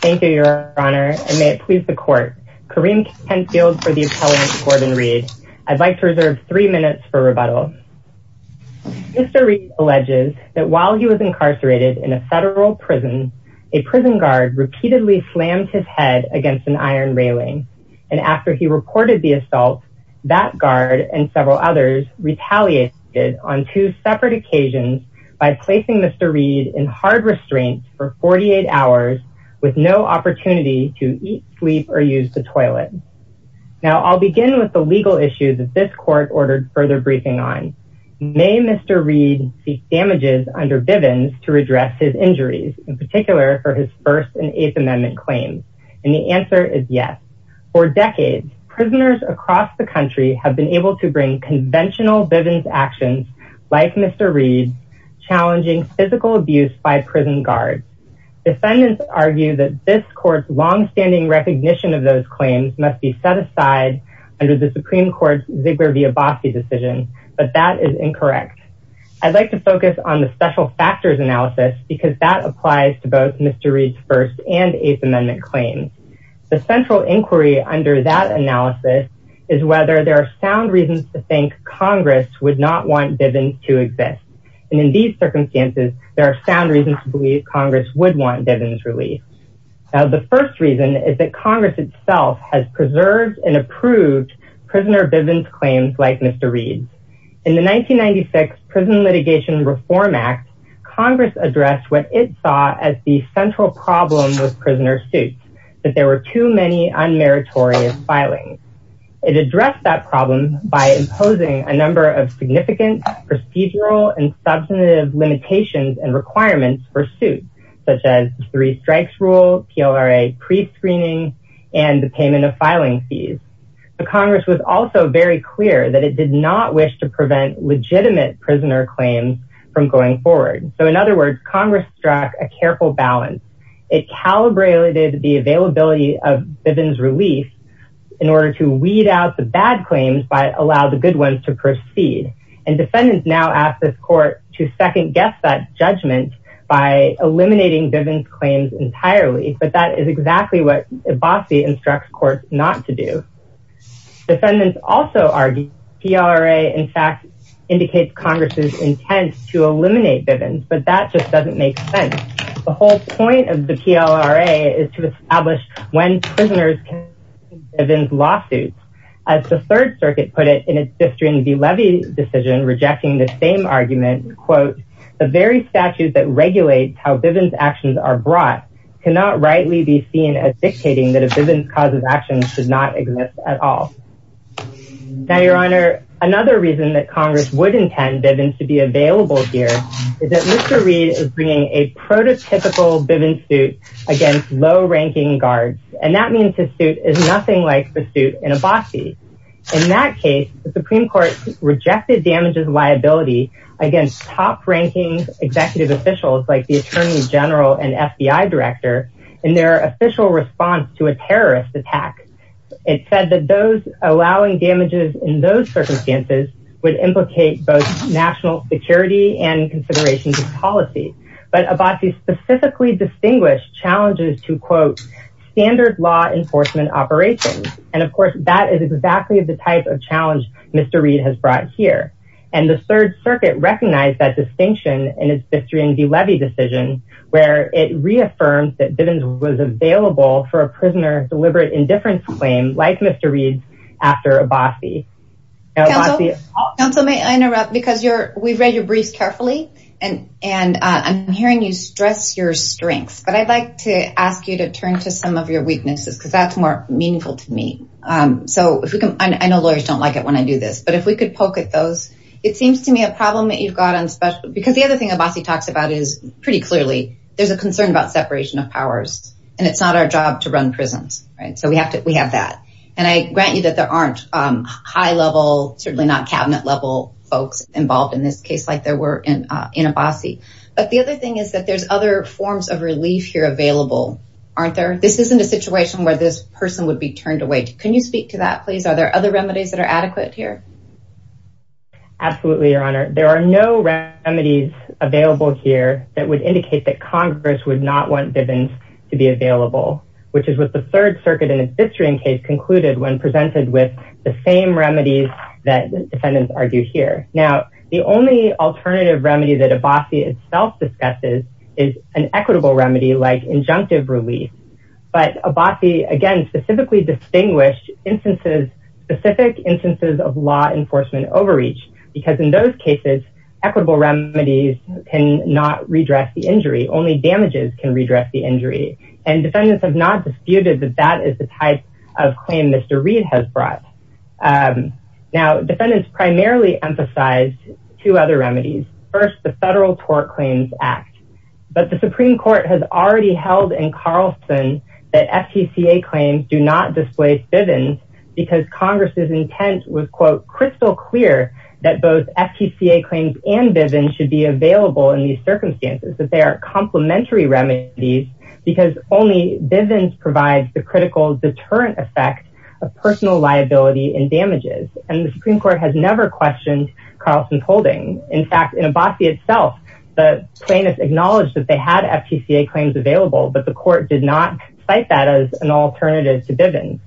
Thank you your honor and may it please the court. Kareem Kenfield for the appellant Corbin Reid. I'd like to reserve three minutes for rebuttal. Mr. Reid alleges that while he was incarcerated in a federal prison, a prison guard repeatedly slammed his head against an iron railing and after he reported the assault that guard and several others retaliated on two separate occasions by placing Mr. Reid in hard restraints for 48 hours with no opportunity to eat sleep or use the toilet. Now I'll begin with the legal issue that this court ordered further briefing on. May Mr. Reid seek damages under Bivens to redress his injuries in particular for his first and eighth amendment claims and the answer is yes. For decades prisoners across the country have been able to bring conventional Bivens actions like Mr. Reid challenging physical abuse by prison guards. Defendants argue that this court's long-standing recognition of those claims must be set aside under the supreme court's Ziegler-Vyabovsky decision but that is incorrect. I'd like to focus on the special factors analysis because that applies to both Mr. Reid's first and eighth amendment claims. The central inquiry under that analysis is whether there are sound reasons to think congress would not want Bivens to exist and in these circumstances there are sound reasons to believe congress would want Bivens released. Now the first reason is that congress itself has preserved and approved prisoner Bivens claims like Mr. Reid's. In the 1996 prison litigation reform act congress addressed what it saw as the central problem with prisoner suits that there were too many unmeritorious filings. It addressed that problem by imposing a number of significant procedural and substantive limitations and requirements for suits such as the three strikes rule PLRA pre-screening and the payment of filing fees. The congress was also very clear that it did not wish to prevent legitimate prisoner claims from going forward so in other words congress struck a careful balance. It calibrated the availability of Bivens release in order to weed out the bad claims but allow the good ones to proceed and defendants now ask this court to second guess that judgment by eliminating Bivens claims entirely but that is exactly what Vyabovsky instructs courts not to do. Defendants also argue PLRA in fact indicates congress's to eliminate Bivens but that just doesn't make sense. The whole point of the PLRA is to establish when prisoners can Bivens lawsuits. As the third circuit put it in its District and Delevy decision rejecting the same argument quote the very statute that regulates how Bivens actions are brought cannot rightly be seen as dictating that a Bivens cause of action should not exist at all. Now your honor another reason that congress would intend Bivens to be available here is that Mr. Reed is bringing a prototypical Bivens suit against low-ranking guards and that means the suit is nothing like the suit in a bossy. In that case the supreme court rejected damages liability against top-ranking executive officials like the attorney general and FBI director in their official response to a terrorist attack. It said that those allowing damages in those circumstances would implicate both national security and considerations of policy but Abbasi specifically distinguished challenges to quote standard law enforcement operations and of course that is exactly the type of challenge Mr. Reed has brought here and the third circuit recognized that distinction in its District and Delevy decision where it reaffirmed that Bivens was available for a prisoner's deliberate indifference claim like Mr. Reed's after Abbasi. Counsel may I interrupt because you're we've read your briefs carefully and and I'm hearing you stress your strengths but I'd like to ask you to turn to some of your weaknesses because that's more meaningful to me. So if we can I know lawyers don't like it when I do this but if we could poke at those it seems to me a problem that you've got on special because the other thing Abbasi talks about is pretty clearly there's a concern about separation of powers and it's not our job to run prisons right so we have to we have that and I grant you that there aren't high level certainly not cabinet level folks involved in this case like there were in in Abbasi but the other thing is that there's other forms of relief here available aren't there this isn't a situation where this person would be turned away can you speak to that please are there other remedies that are adequate here? Absolutely your honor there are no remedies available here that would indicate that congress would not want Bivens to be available which is what the third circuit and its history in case concluded when presented with the same remedies that defendants argue here now the only alternative remedy that Abbasi itself discusses is an equitable remedy like instances of law enforcement overreach because in those cases equitable remedies can not redress the injury only damages can redress the injury and defendants have not disputed that that is the type of claim Mr. Reed has brought. Now defendants primarily emphasize two other remedies first the federal tort claims act but the supreme court has already held in Carlson that FTCA claims do not displace Bivens because congress's intent was quote crystal clear that both FTCA claims and Bivens should be available in these circumstances that they are complementary remedies because only Bivens provides the critical deterrent effect of personal liability and damages and the supreme court has never questioned Carlson's holding in fact in Abbasi itself the plaintiffs acknowledged that they had FTCA claims available but the court did not cite that as an alternative to Bivens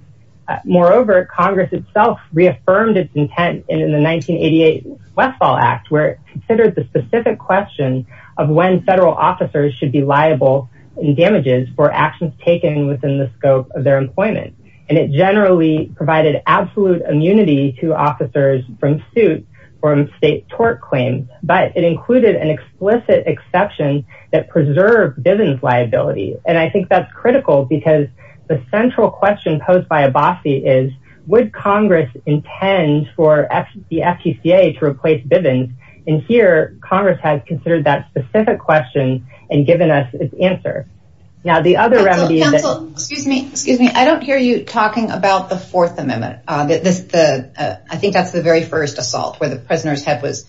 moreover congress itself reaffirmed its intent in the 1988 westfall act where it considered the specific question of when federal officers should be liable in damages for actions taken within the scope of their employment and it generally provided absolute immunity to officers from suit from state tort claims but it included an explicit exception that preserved Bivens liability and I think that's critical because the central question posed by Abbasi is would congress intend for the FTCA to replace Bivens and here congress has considered that specific question and given us its answer now the other remedy excuse me I don't hear you talking about the fourth amendment uh that this the uh I think that's the very first assault where the prisoner's head was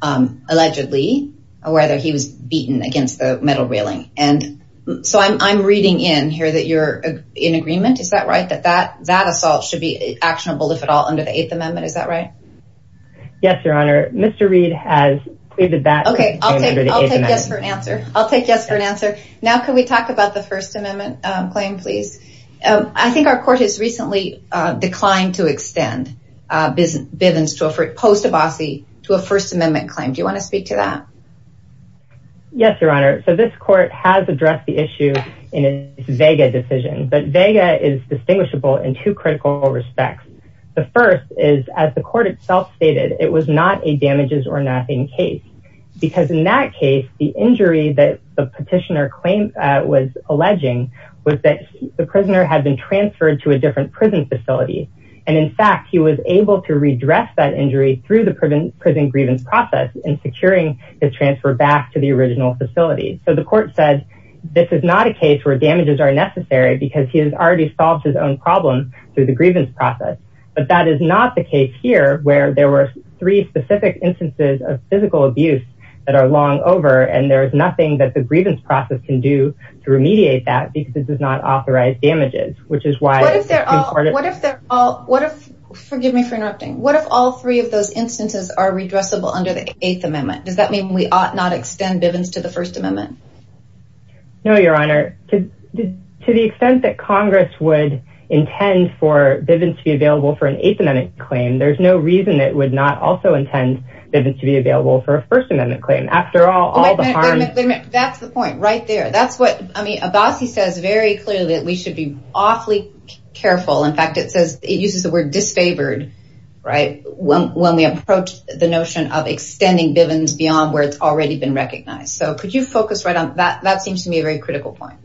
um allegedly or whether he was beaten against the metal railing and so I'm I'm reading in here that you're in agreement is that right that that that assault should be actionable if at all under the eighth amendment is that right yes your honor Mr. Reed has pleaded that okay I'll take I'll take yes for an answer I'll take yes for an answer now can we talk about the first amendment claim please I think our court has recently declined to extend Bivens to a post Abbasi to a first amendment claim do you want to speak to that yes your honor so this court has addressed the issue in a vega decision but vega is distinguishable in two critical respects the first is as the court itself stated it was not a damages or nothing case because in that case the injury that the petitioner claimed was alleging was that the prisoner had been transferred to a different prison facility and in fact he was able to redress that injury through the prison grievance process and securing his transfer back to the original facility so the court said this is not a case where damages are necessary because he has already solved his own problem through the grievance process but that is not the case here where there were three specific instances of physical abuse that are long over and there is nothing that the grievance process can do to remediate that because it does not authorize damages which is why what if they're all what if forgive me for interrupting what if all three of those instances are redressable under the eighth amendment does that mean we ought not extend Bivens to the first amendment no your honor to the extent that congress would intend for Bivens to be available for an eighth amendment claim there's no reason it would not also intend Bivens to be available for a first amendment claim after all all the harm that's the point right there that's what I mean Abbasi says very clearly that we should be awfully careful in fact it says it uses the word disfavored right when we approach the notion of extending Bivens beyond where it's already been recognized so could you focus right on that that seems to me a very critical point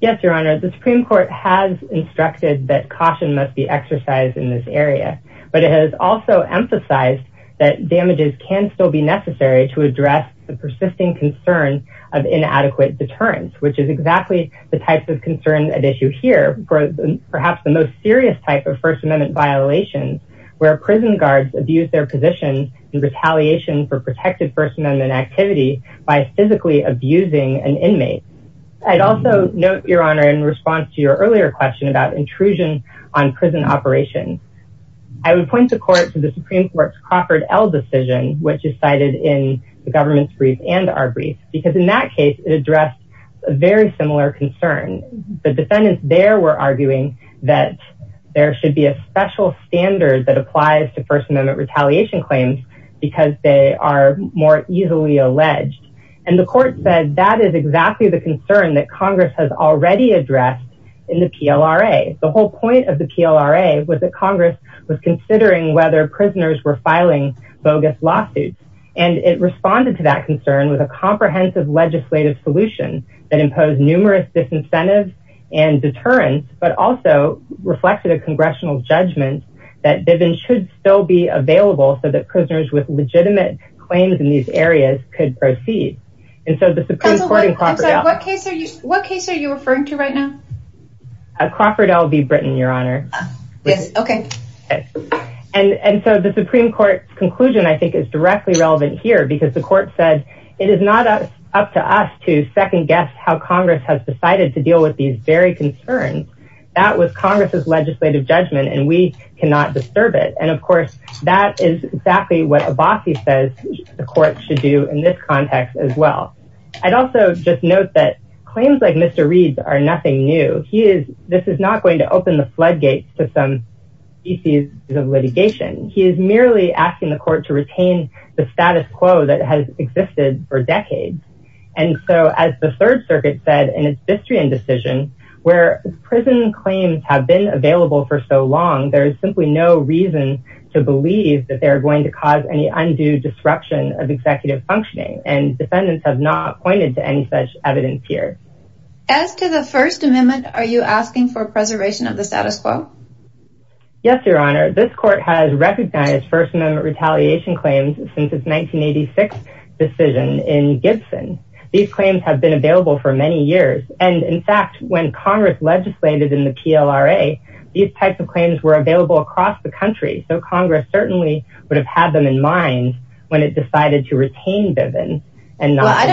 yes your honor the supreme court has instructed that caution must be exercised in this area but it has also emphasized that damages can still be necessary to address the persisting concern of inadequate deterrence which is exactly the type of concern at issue here for perhaps the most serious type of first amendment violations where prison guards abuse their positions in I'd also note your honor in response to your earlier question about intrusion on prison operations I would point the court to the supreme court's Crawford L decision which is cited in the government's brief and our brief because in that case it addressed a very similar concern the defendants there were arguing that there should be a special standard that applies to first amendment retaliation claims because they are more easily alleged and the court said that is exactly the concern that congress has already addressed in the PLRA the whole point of the PLRA was that congress was considering whether prisoners were filing bogus lawsuits and it responded to that concern with a comprehensive legislative solution that imposed numerous disincentives and deterrence but also reflected a congressional judgment that Bivens should still be available so prisoners with legitimate claims in these areas could proceed and so the supreme court what case are you referring to right now Crawford L v Britain your honor yes okay and so the supreme court's conclusion I think is directly relevant here because the court said it is not up to us to second guess how congress has decided to deal with these very concerns that was congress's legislative judgment and we cannot disturb it and of course that is exactly what Abbasi says the court should do in this context as well I'd also just note that claims like Mr. Reed's are nothing new he is this is not going to open the floodgates to some species of litigation he is merely asking the court to retain the status quo that has existed for decades and so as the third circuit said in its distrian decision where prison claims have been available for so long there is simply no reason to believe that they are going to cause any undue disruption of executive functioning and defendants have not pointed to any such evidence here as to the first amendment are you asking for preservation of the status quo yes your honor this court has recognized first amendment retaliation claims since its 1986 decision in Gibson these claims have been available for many years and in fact when congress legislated in the PLRA these types of claims were available across the country so congress certainly would have had them in mind when it decided to retain Bivens and not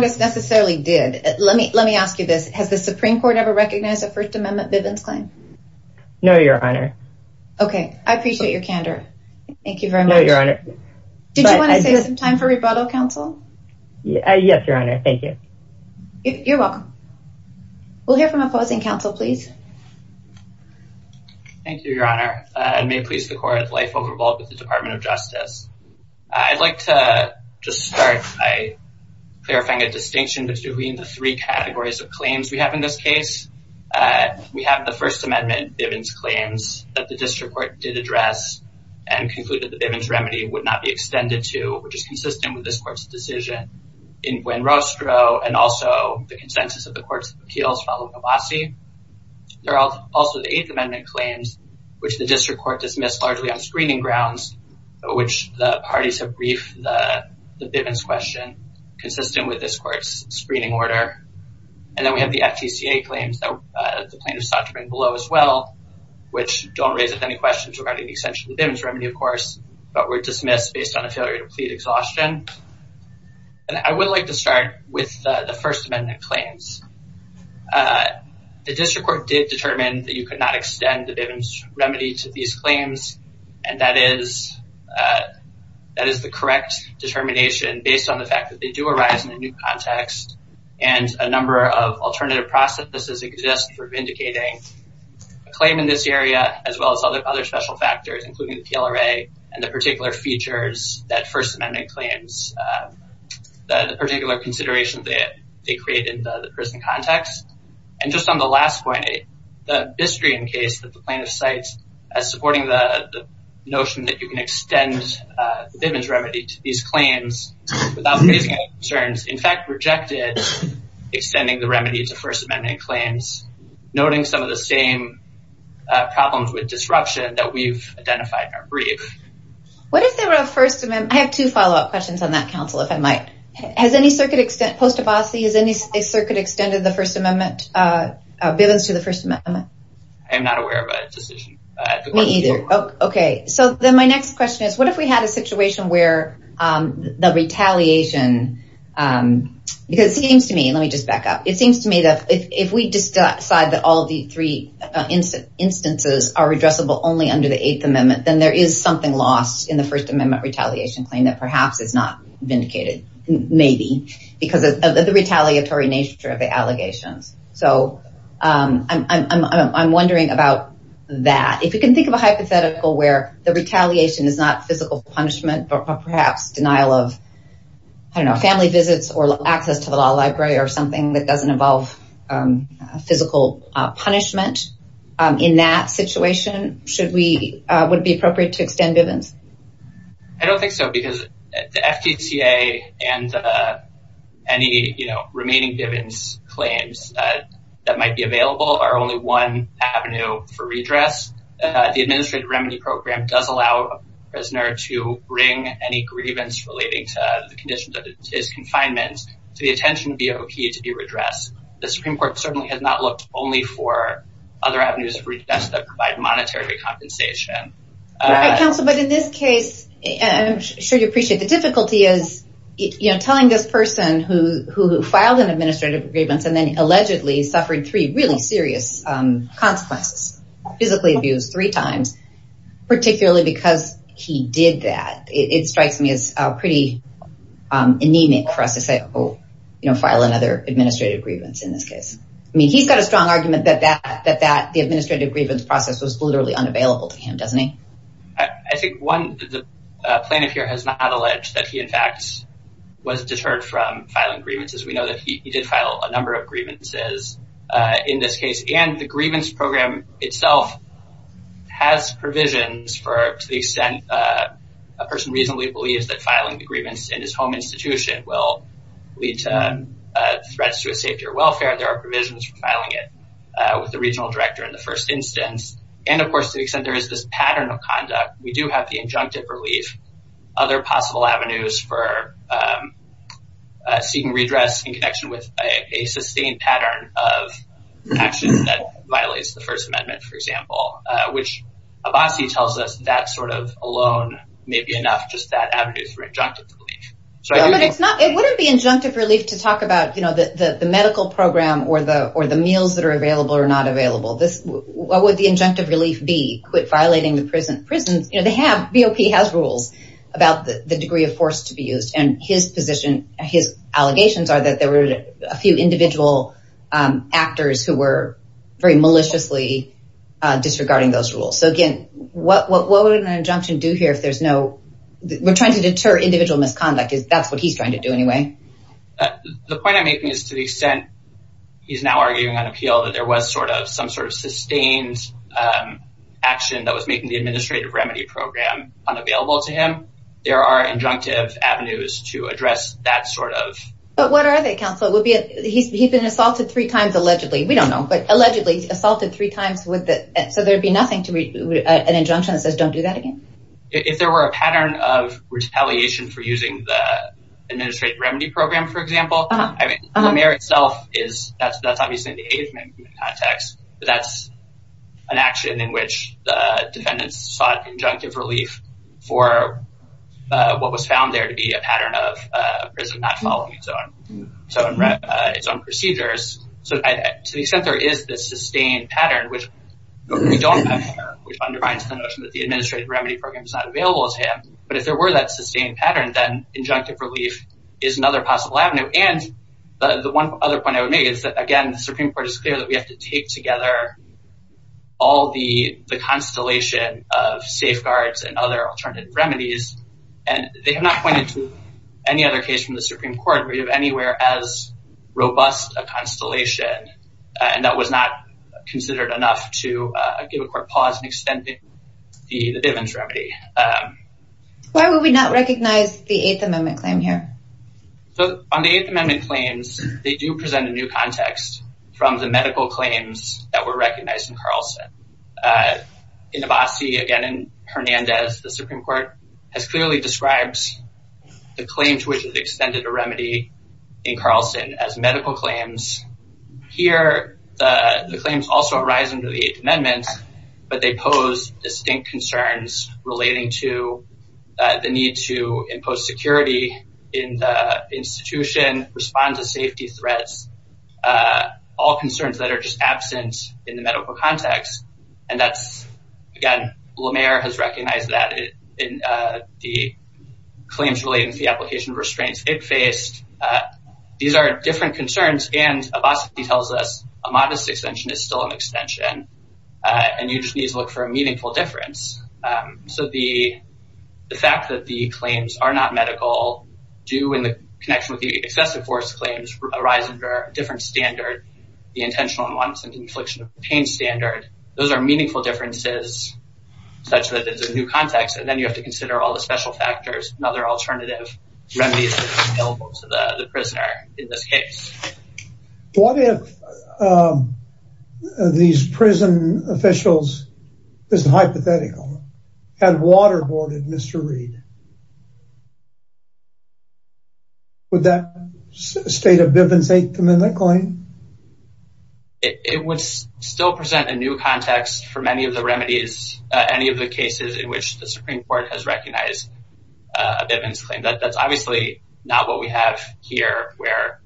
necessarily did let me let me ask you this has the supreme court ever recognized a first amendment Bivens claim no your honor okay I appreciate your candor thank you very much your honor did you want to take some time for rebuttal counsel yes your honor thank you you're welcome we'll hear from opposing counsel please thank you your honor I may please the court life of revolt with the department of justice I'd like to just start by clarifying a distinction between the three categories of claims we have in this case we have the first amendment Bivens claims that the district court did address and concluded the Bivens remedy would not be extended to which is consistent with this court's decision in Buen Rostro and also the consensus of the courts of appeals following a bossy they're all also the eighth amendment claims which the district court dismissed largely on screening grounds which the parties have briefed the Bivens question consistent with this court's screening order and then we have the FTCA claims that the plaintiff's doctrine below as well which don't raise any questions regarding the essential Bivens remedy of course but were dismissed based on a failure to plead exhaustion and I would like to start with the first amendment claims the district court did determine that you could not extend the Bivens remedy to these claims and that is that is the correct determination based on the fact that they do arise in a new claim in this area as well as other other special factors including the PLRA and the particular features that first amendment claims the particular consideration that they create in the prison context and just on the last point the Bistrian case that the plaintiff cites as supporting the notion that you can extend the Bivens remedy to these claims without raising any concerns in fact rejected extending the remedy to first amendment claims noting some of the same problems with disruption that we've identified in our brief what if there were a first amendment I have two follow-up questions on that counsel if I might has any circuit extent post-Abbasi is any circuit extended the first amendment uh Bivens to the first amendment I am not aware of a decision me either okay so then my next question is what if we had a situation where um the retaliation um because it seems to me let me just back up it seems to me that if we decide that all three instances are addressable only under the eighth amendment then there is something lost in the first amendment retaliation claim that perhaps is not vindicated maybe because of the retaliatory nature of the allegations so um I'm I'm I'm wondering about that if you can think of a hypothetical where the retaliation is not physical punishment but perhaps denial of I don't know family visits or access to the law library or something that doesn't involve um physical uh punishment um in that situation should we uh would it be appropriate to extend Bivens I don't think so because the FDCA and uh any you know remaining Bivens claims that that might be available are only one avenue for redress uh the administrative remedy program does allow a prisoner to bring any grievance relating to the condition that is confinement to the supreme court certainly has not looked only for other avenues of redress that provide monetary compensation right counsel but in this case and I'm sure you appreciate the difficulty is you know telling this person who who filed an administrative grievance and then allegedly suffered three really serious um consequences physically abused three times particularly because he did that it strikes me as a pretty um anemic for us to say oh you know file another administrative grievance in this case I mean he's got a strong argument that that that that the administrative grievance process was literally unavailable to him doesn't he I think one the plaintiff here has not alleged that he in fact was deterred from filing grievances we know that he did file a number of grievances uh in this case and the grievance program itself has provisions for to the extent uh a person reasonably believes that filing the grievance in his home institution will lead to threats to his safety or welfare there are provisions for filing it with the regional director in the first instance and of course to the extent there is this pattern of conduct we do have the injunctive relief other possible avenues for seeking redress in connection with a sustained pattern of actions that violates the first amendment for example which Abbasi tells us that sort of alone may be enough just that avenues for injunctive relief so it's not it wouldn't be injunctive relief to talk about you know the the medical program or the or the meals that are available or not available this what would the injunctive relief be quit violating the prison prisons you know they have BOP has rules about the degree of force to be used and his position his allegations are that there were a few individual um actors who were very maliciously uh disregarding those rules so again what what would an injunction do here if there's no we're trying to deter individual misconduct is that's what he's trying to do anyway the point i'm making is to the extent he's now arguing on appeal that there was sort of some sort of sustained um action that was making the administrative remedy program unavailable to him there are injunctive avenues to address that sort of but what are they counsel would be he's he's been assaulted three times allegedly we don't know but allegedly assaulted three times with the so there'd be nothing to read an injunction that says don't do that again if there were a pattern of retaliation for using the administrative remedy program for example i mean the mayor itself is that's that's obviously in the age management context but that's an action in which the defendants sought injunctive relief for uh what was found there to be a pattern of uh prison not so in its own procedures so to the extent there is this sustained pattern which we don't have here which undermines the notion that the administrative remedy program is not available to him but if there were that sustained pattern then injunctive relief is another possible avenue and the one other point i would make is that again the supreme court is clear that we have to take together all the the constellation of safeguards and other alternative remedies and they have not pointed to any other case from the supreme court we have anywhere as robust a constellation and that was not considered enough to uh give a court pause in extending the the divans remedy um why would we not recognize the eighth amendment claim here so on the eighth amendment claims they do present a new context from the medical claims that were recognized in carlson uh in abasi again in hernandez the supreme court has clearly described the claim to which is extended a remedy in carlson as medical claims here the the claims also arise under the eighth amendment but they pose distinct concerns relating to the need to impose security in the institution respond to safety threats uh all concerns that are just absent in the medical context and that's again lamar has recognized that in uh the claims relating to the application of restraints it faced these are different concerns and abasi tells us a modest extension is still an extension and you just need to look for a meaningful difference so the the fact that the claims are not medical do in the connection with the excessive force claims arise under a different standard the intentional ones and infliction of pain standard those are meaningful differences such that there's a new context and then you have to consider all the special factors another alternative remedy is available to the the prisoner in this case what if these prison officials this hypothetical had waterboarded mr reed would that state of bivens eight come in that claim it would still present a new context for many of the remedies any of the cases in which the supreme court has recognized a bitman's claim that that's obviously not what we have here where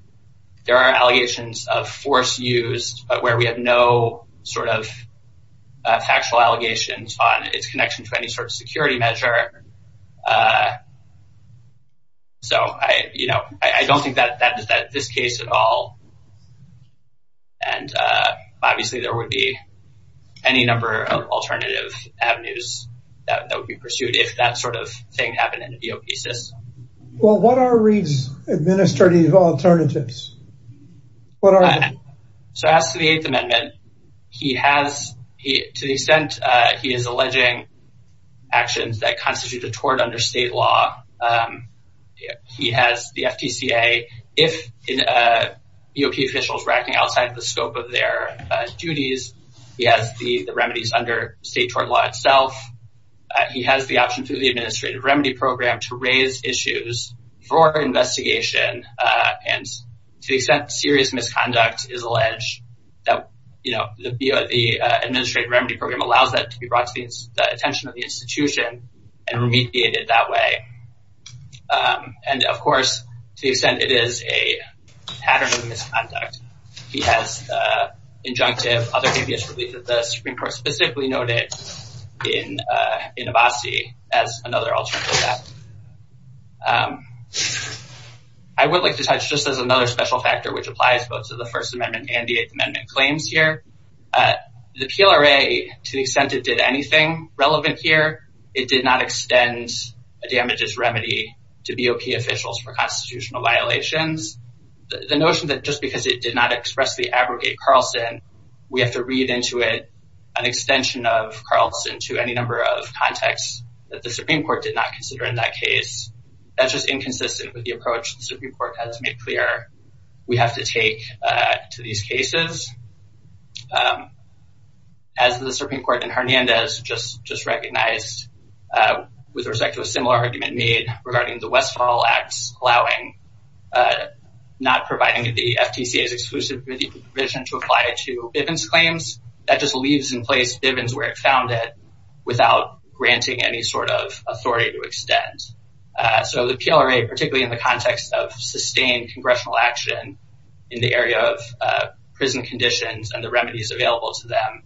there are allegations of force used but where we have no sort of factual allegations on its connection to any sort of security measure uh so i you know i don't think that that is that this case at all and uh obviously there would be any number of alternative avenues that would be pursued if that sort of thing happened in a do pieces well what are reed's administrative alternatives what are so as to the eighth amendment he has he to the extent uh he is alleging actions that outside the scope of their duties he has the the remedies under state tort law itself he has the option through the administrative remedy program to raise issues for investigation and to the extent serious misconduct is alleged that you know the the administrative remedy program allows that to be brought to the attention of the institution and remediated that way um and of course to the extent it is a pattern of misconduct he has the injunctive other habeas relief that the supreme court specifically noted in uh in abasi as another alternative um i would like to touch just as another special factor which applies both to the first amendment and the eighth amendment claims here uh the plra to the extent it did anything relevant here it did not extend a damages remedy to bop officials for constitutional violations the notion that just because it did not expressly abrogate carlson we have to read into it an extension of carlson to any number of contexts that the supreme court did not consider in that case that's just inconsistent with the approach the supreme court has made clear we have to take to these cases um as the supreme court and hernandez just just recognized with respect to a similar argument made regarding the westfall acts allowing not providing the ftca's exclusive provision to apply to bivens claims that just leaves in place bivens where it found it without granting any sort of authority to extend uh so the plra particularly in the context of sustained congressional action in the area of uh prison conditions and the remedies available to them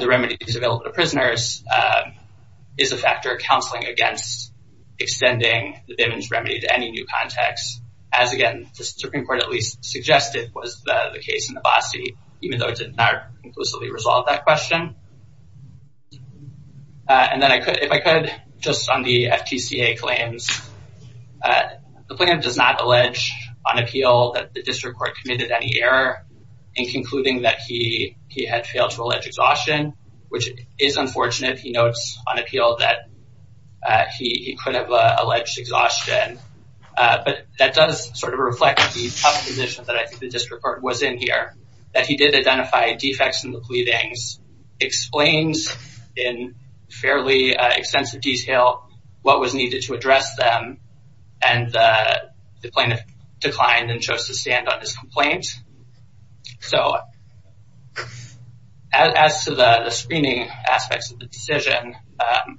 the remedies available to prisoners is a factor of counseling against extending the bivens remedy to any new context as again the supreme court at least suggested was the the case in abasi even though it did not conclusively resolve that question and then i could if i could just on the ftca claims the plaintiff does not allege on appeal that the district court committed any error in concluding that he he had failed to allege exhaustion which is unfortunate he notes on appeal that uh he he could have alleged exhaustion uh but that does sort of reflect the tough that i think the district court was in here that he did identify defects in the pleadings explains in fairly extensive detail what was needed to address them and the plaintiff declined and chose to stand on his complaint so as to the the screening aspects of the decision um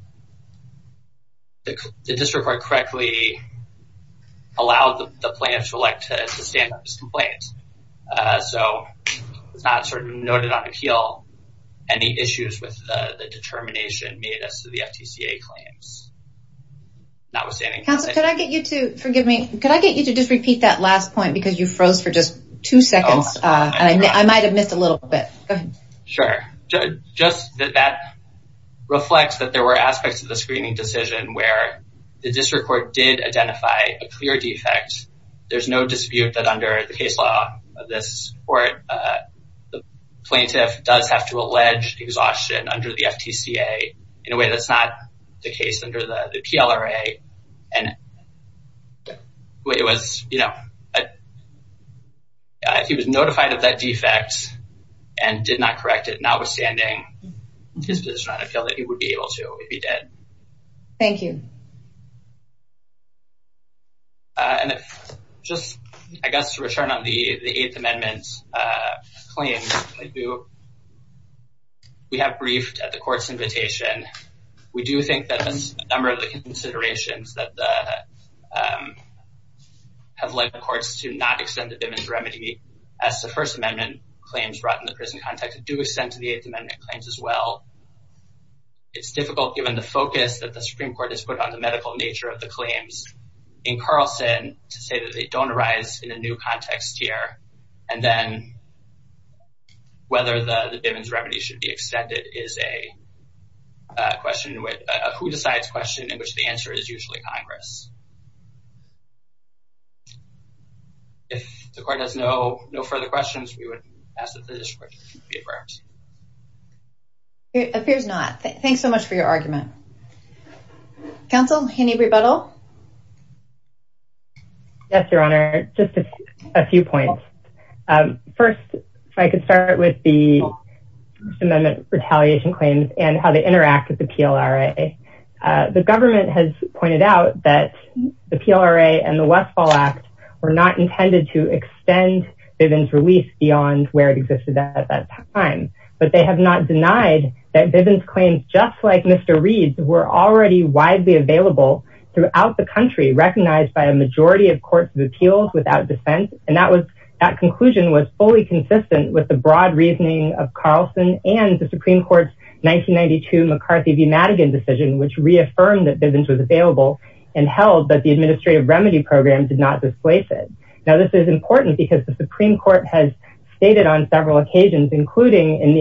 the district court correctly allowed the plaintiff to elect to stand up his complaint uh so it's not sort of noted on appeal any issues with the the determination made as to the ftca claims notwithstanding counsel could i get you to forgive me could i get you to just repeat that last point because you froze for just two seconds uh and i might have missed a little bit go ahead sure just that that reflects that there were aspects of the screening decision where the district court did identify a clear defect there's no dispute that under the case law of this court uh the plaintiff does have to allege exhaustion under the ftca in a way that's not the case under the the plra and it was you know if he was notified of that defect and did not correct it notwithstanding his position on appeal that he would be able to if he did thank you uh and just i guess to return on the the eighth amendment's uh claim we have briefed at the court's invitation we do think that there's a number of the considerations that the um have led the courts to not extend the dimmins remedy as the first amendment claims brought in the prison context do extend to the eighth amendment claims as well it's difficult given the focus that the supreme court has put on the medical nature of the claims in carlson to say that they don't arise in a new context here and then whether the dimmins should be extended is a question with who decides question in which the answer is usually congress if the court has no no further questions we would ask that the district be averse appears not thanks so much for your argument council any rebuttal yes your honor just a few points um first i could start with the amendment retaliation claims and how they interact with the plra the government has pointed out that the plra and the westfall act were not intended to extend bivens release beyond where it existed at that time but they have not denied that bivens claims just like mr reeds were already widely available throughout the country recognized by a majority of courts of appeals without dissent and that was that conclusion was fully consistent with the broad reasoning of carlson and the supreme court's 1992 mccarthy v madigan decision which reaffirmed that bivens was available and held that the administrative remedy program did not displace it now this is important because the supreme court has stated on several occasions including in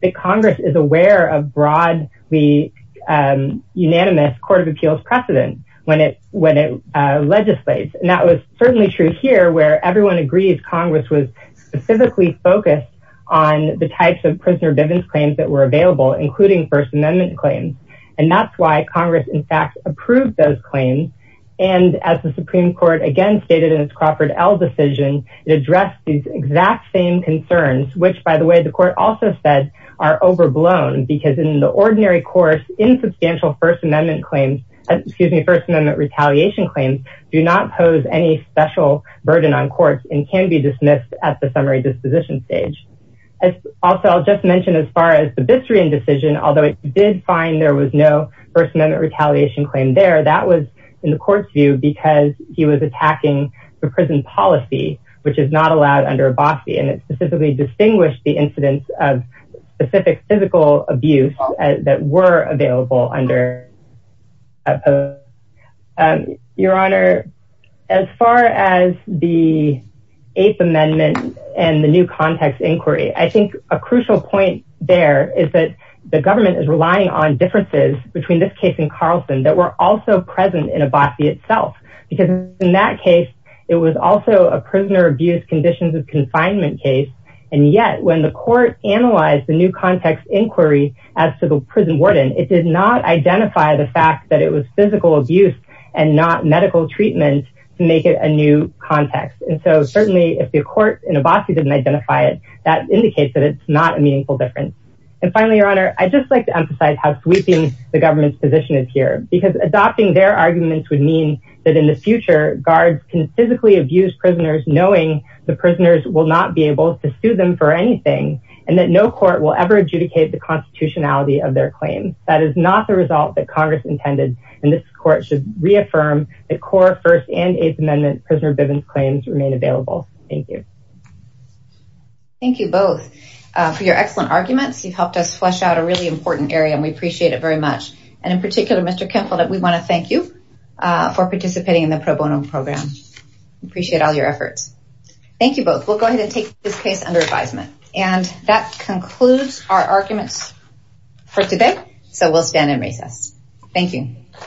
the congress is aware of broadly um unanimous court of appeals precedent when it when it uh legislates and that was certainly true here where everyone agrees congress was specifically focused on the types of prisoner bivens claims that were available including first amendment claims and that's why congress in fact approved those claims and as the supreme court again stated in its crawford l decision it addressed these exact same concerns which by the way the court also said are overblown because in the ordinary course insubstantial first amendment claims excuse me first amendment retaliation claims do not pose any special burden on courts and can be dismissed at the summary disposition stage as also i'll just mention as far as the bitstream decision although it did find there was no first amendment retaliation claim there that was in the court's view because he was attacking the prison policy which is not allowed under a bossy and it specifically distinguished the incidence of specific physical abuse that were available under your honor as far as the eighth amendment and the new context inquiry i think a crucial point there is that the government is relying on differences between this case and carlson that were also present in a bossy itself because in that case it was also a prisoner abuse conditions confinement case and yet when the court analyzed the new context inquiry as to the prison warden it did not identify the fact that it was physical abuse and not medical treatment to make it a new context and so certainly if the court in a bossy didn't identify it that indicates that it's not a meaningful difference and finally your honor i'd just like to emphasize how sweeping the government's position is here because adopting their arguments would mean that in the future guards can physically abuse prisoners knowing the prisoners will not be able to sue them for anything and that no court will ever adjudicate the constitutionality of their claims that is not the result that congress intended and this court should reaffirm the core first and eighth amendment prisoner bivens claims remain available thank you thank you both for your excellent arguments you've helped us flesh out a really important area and we appreciate it very much and in particular mr kemple that we want to thank you for participating in the pro bono program appreciate all your efforts thank you both we'll go ahead and take this case under advisement and that concludes our arguments for today so we'll stand and recess thank you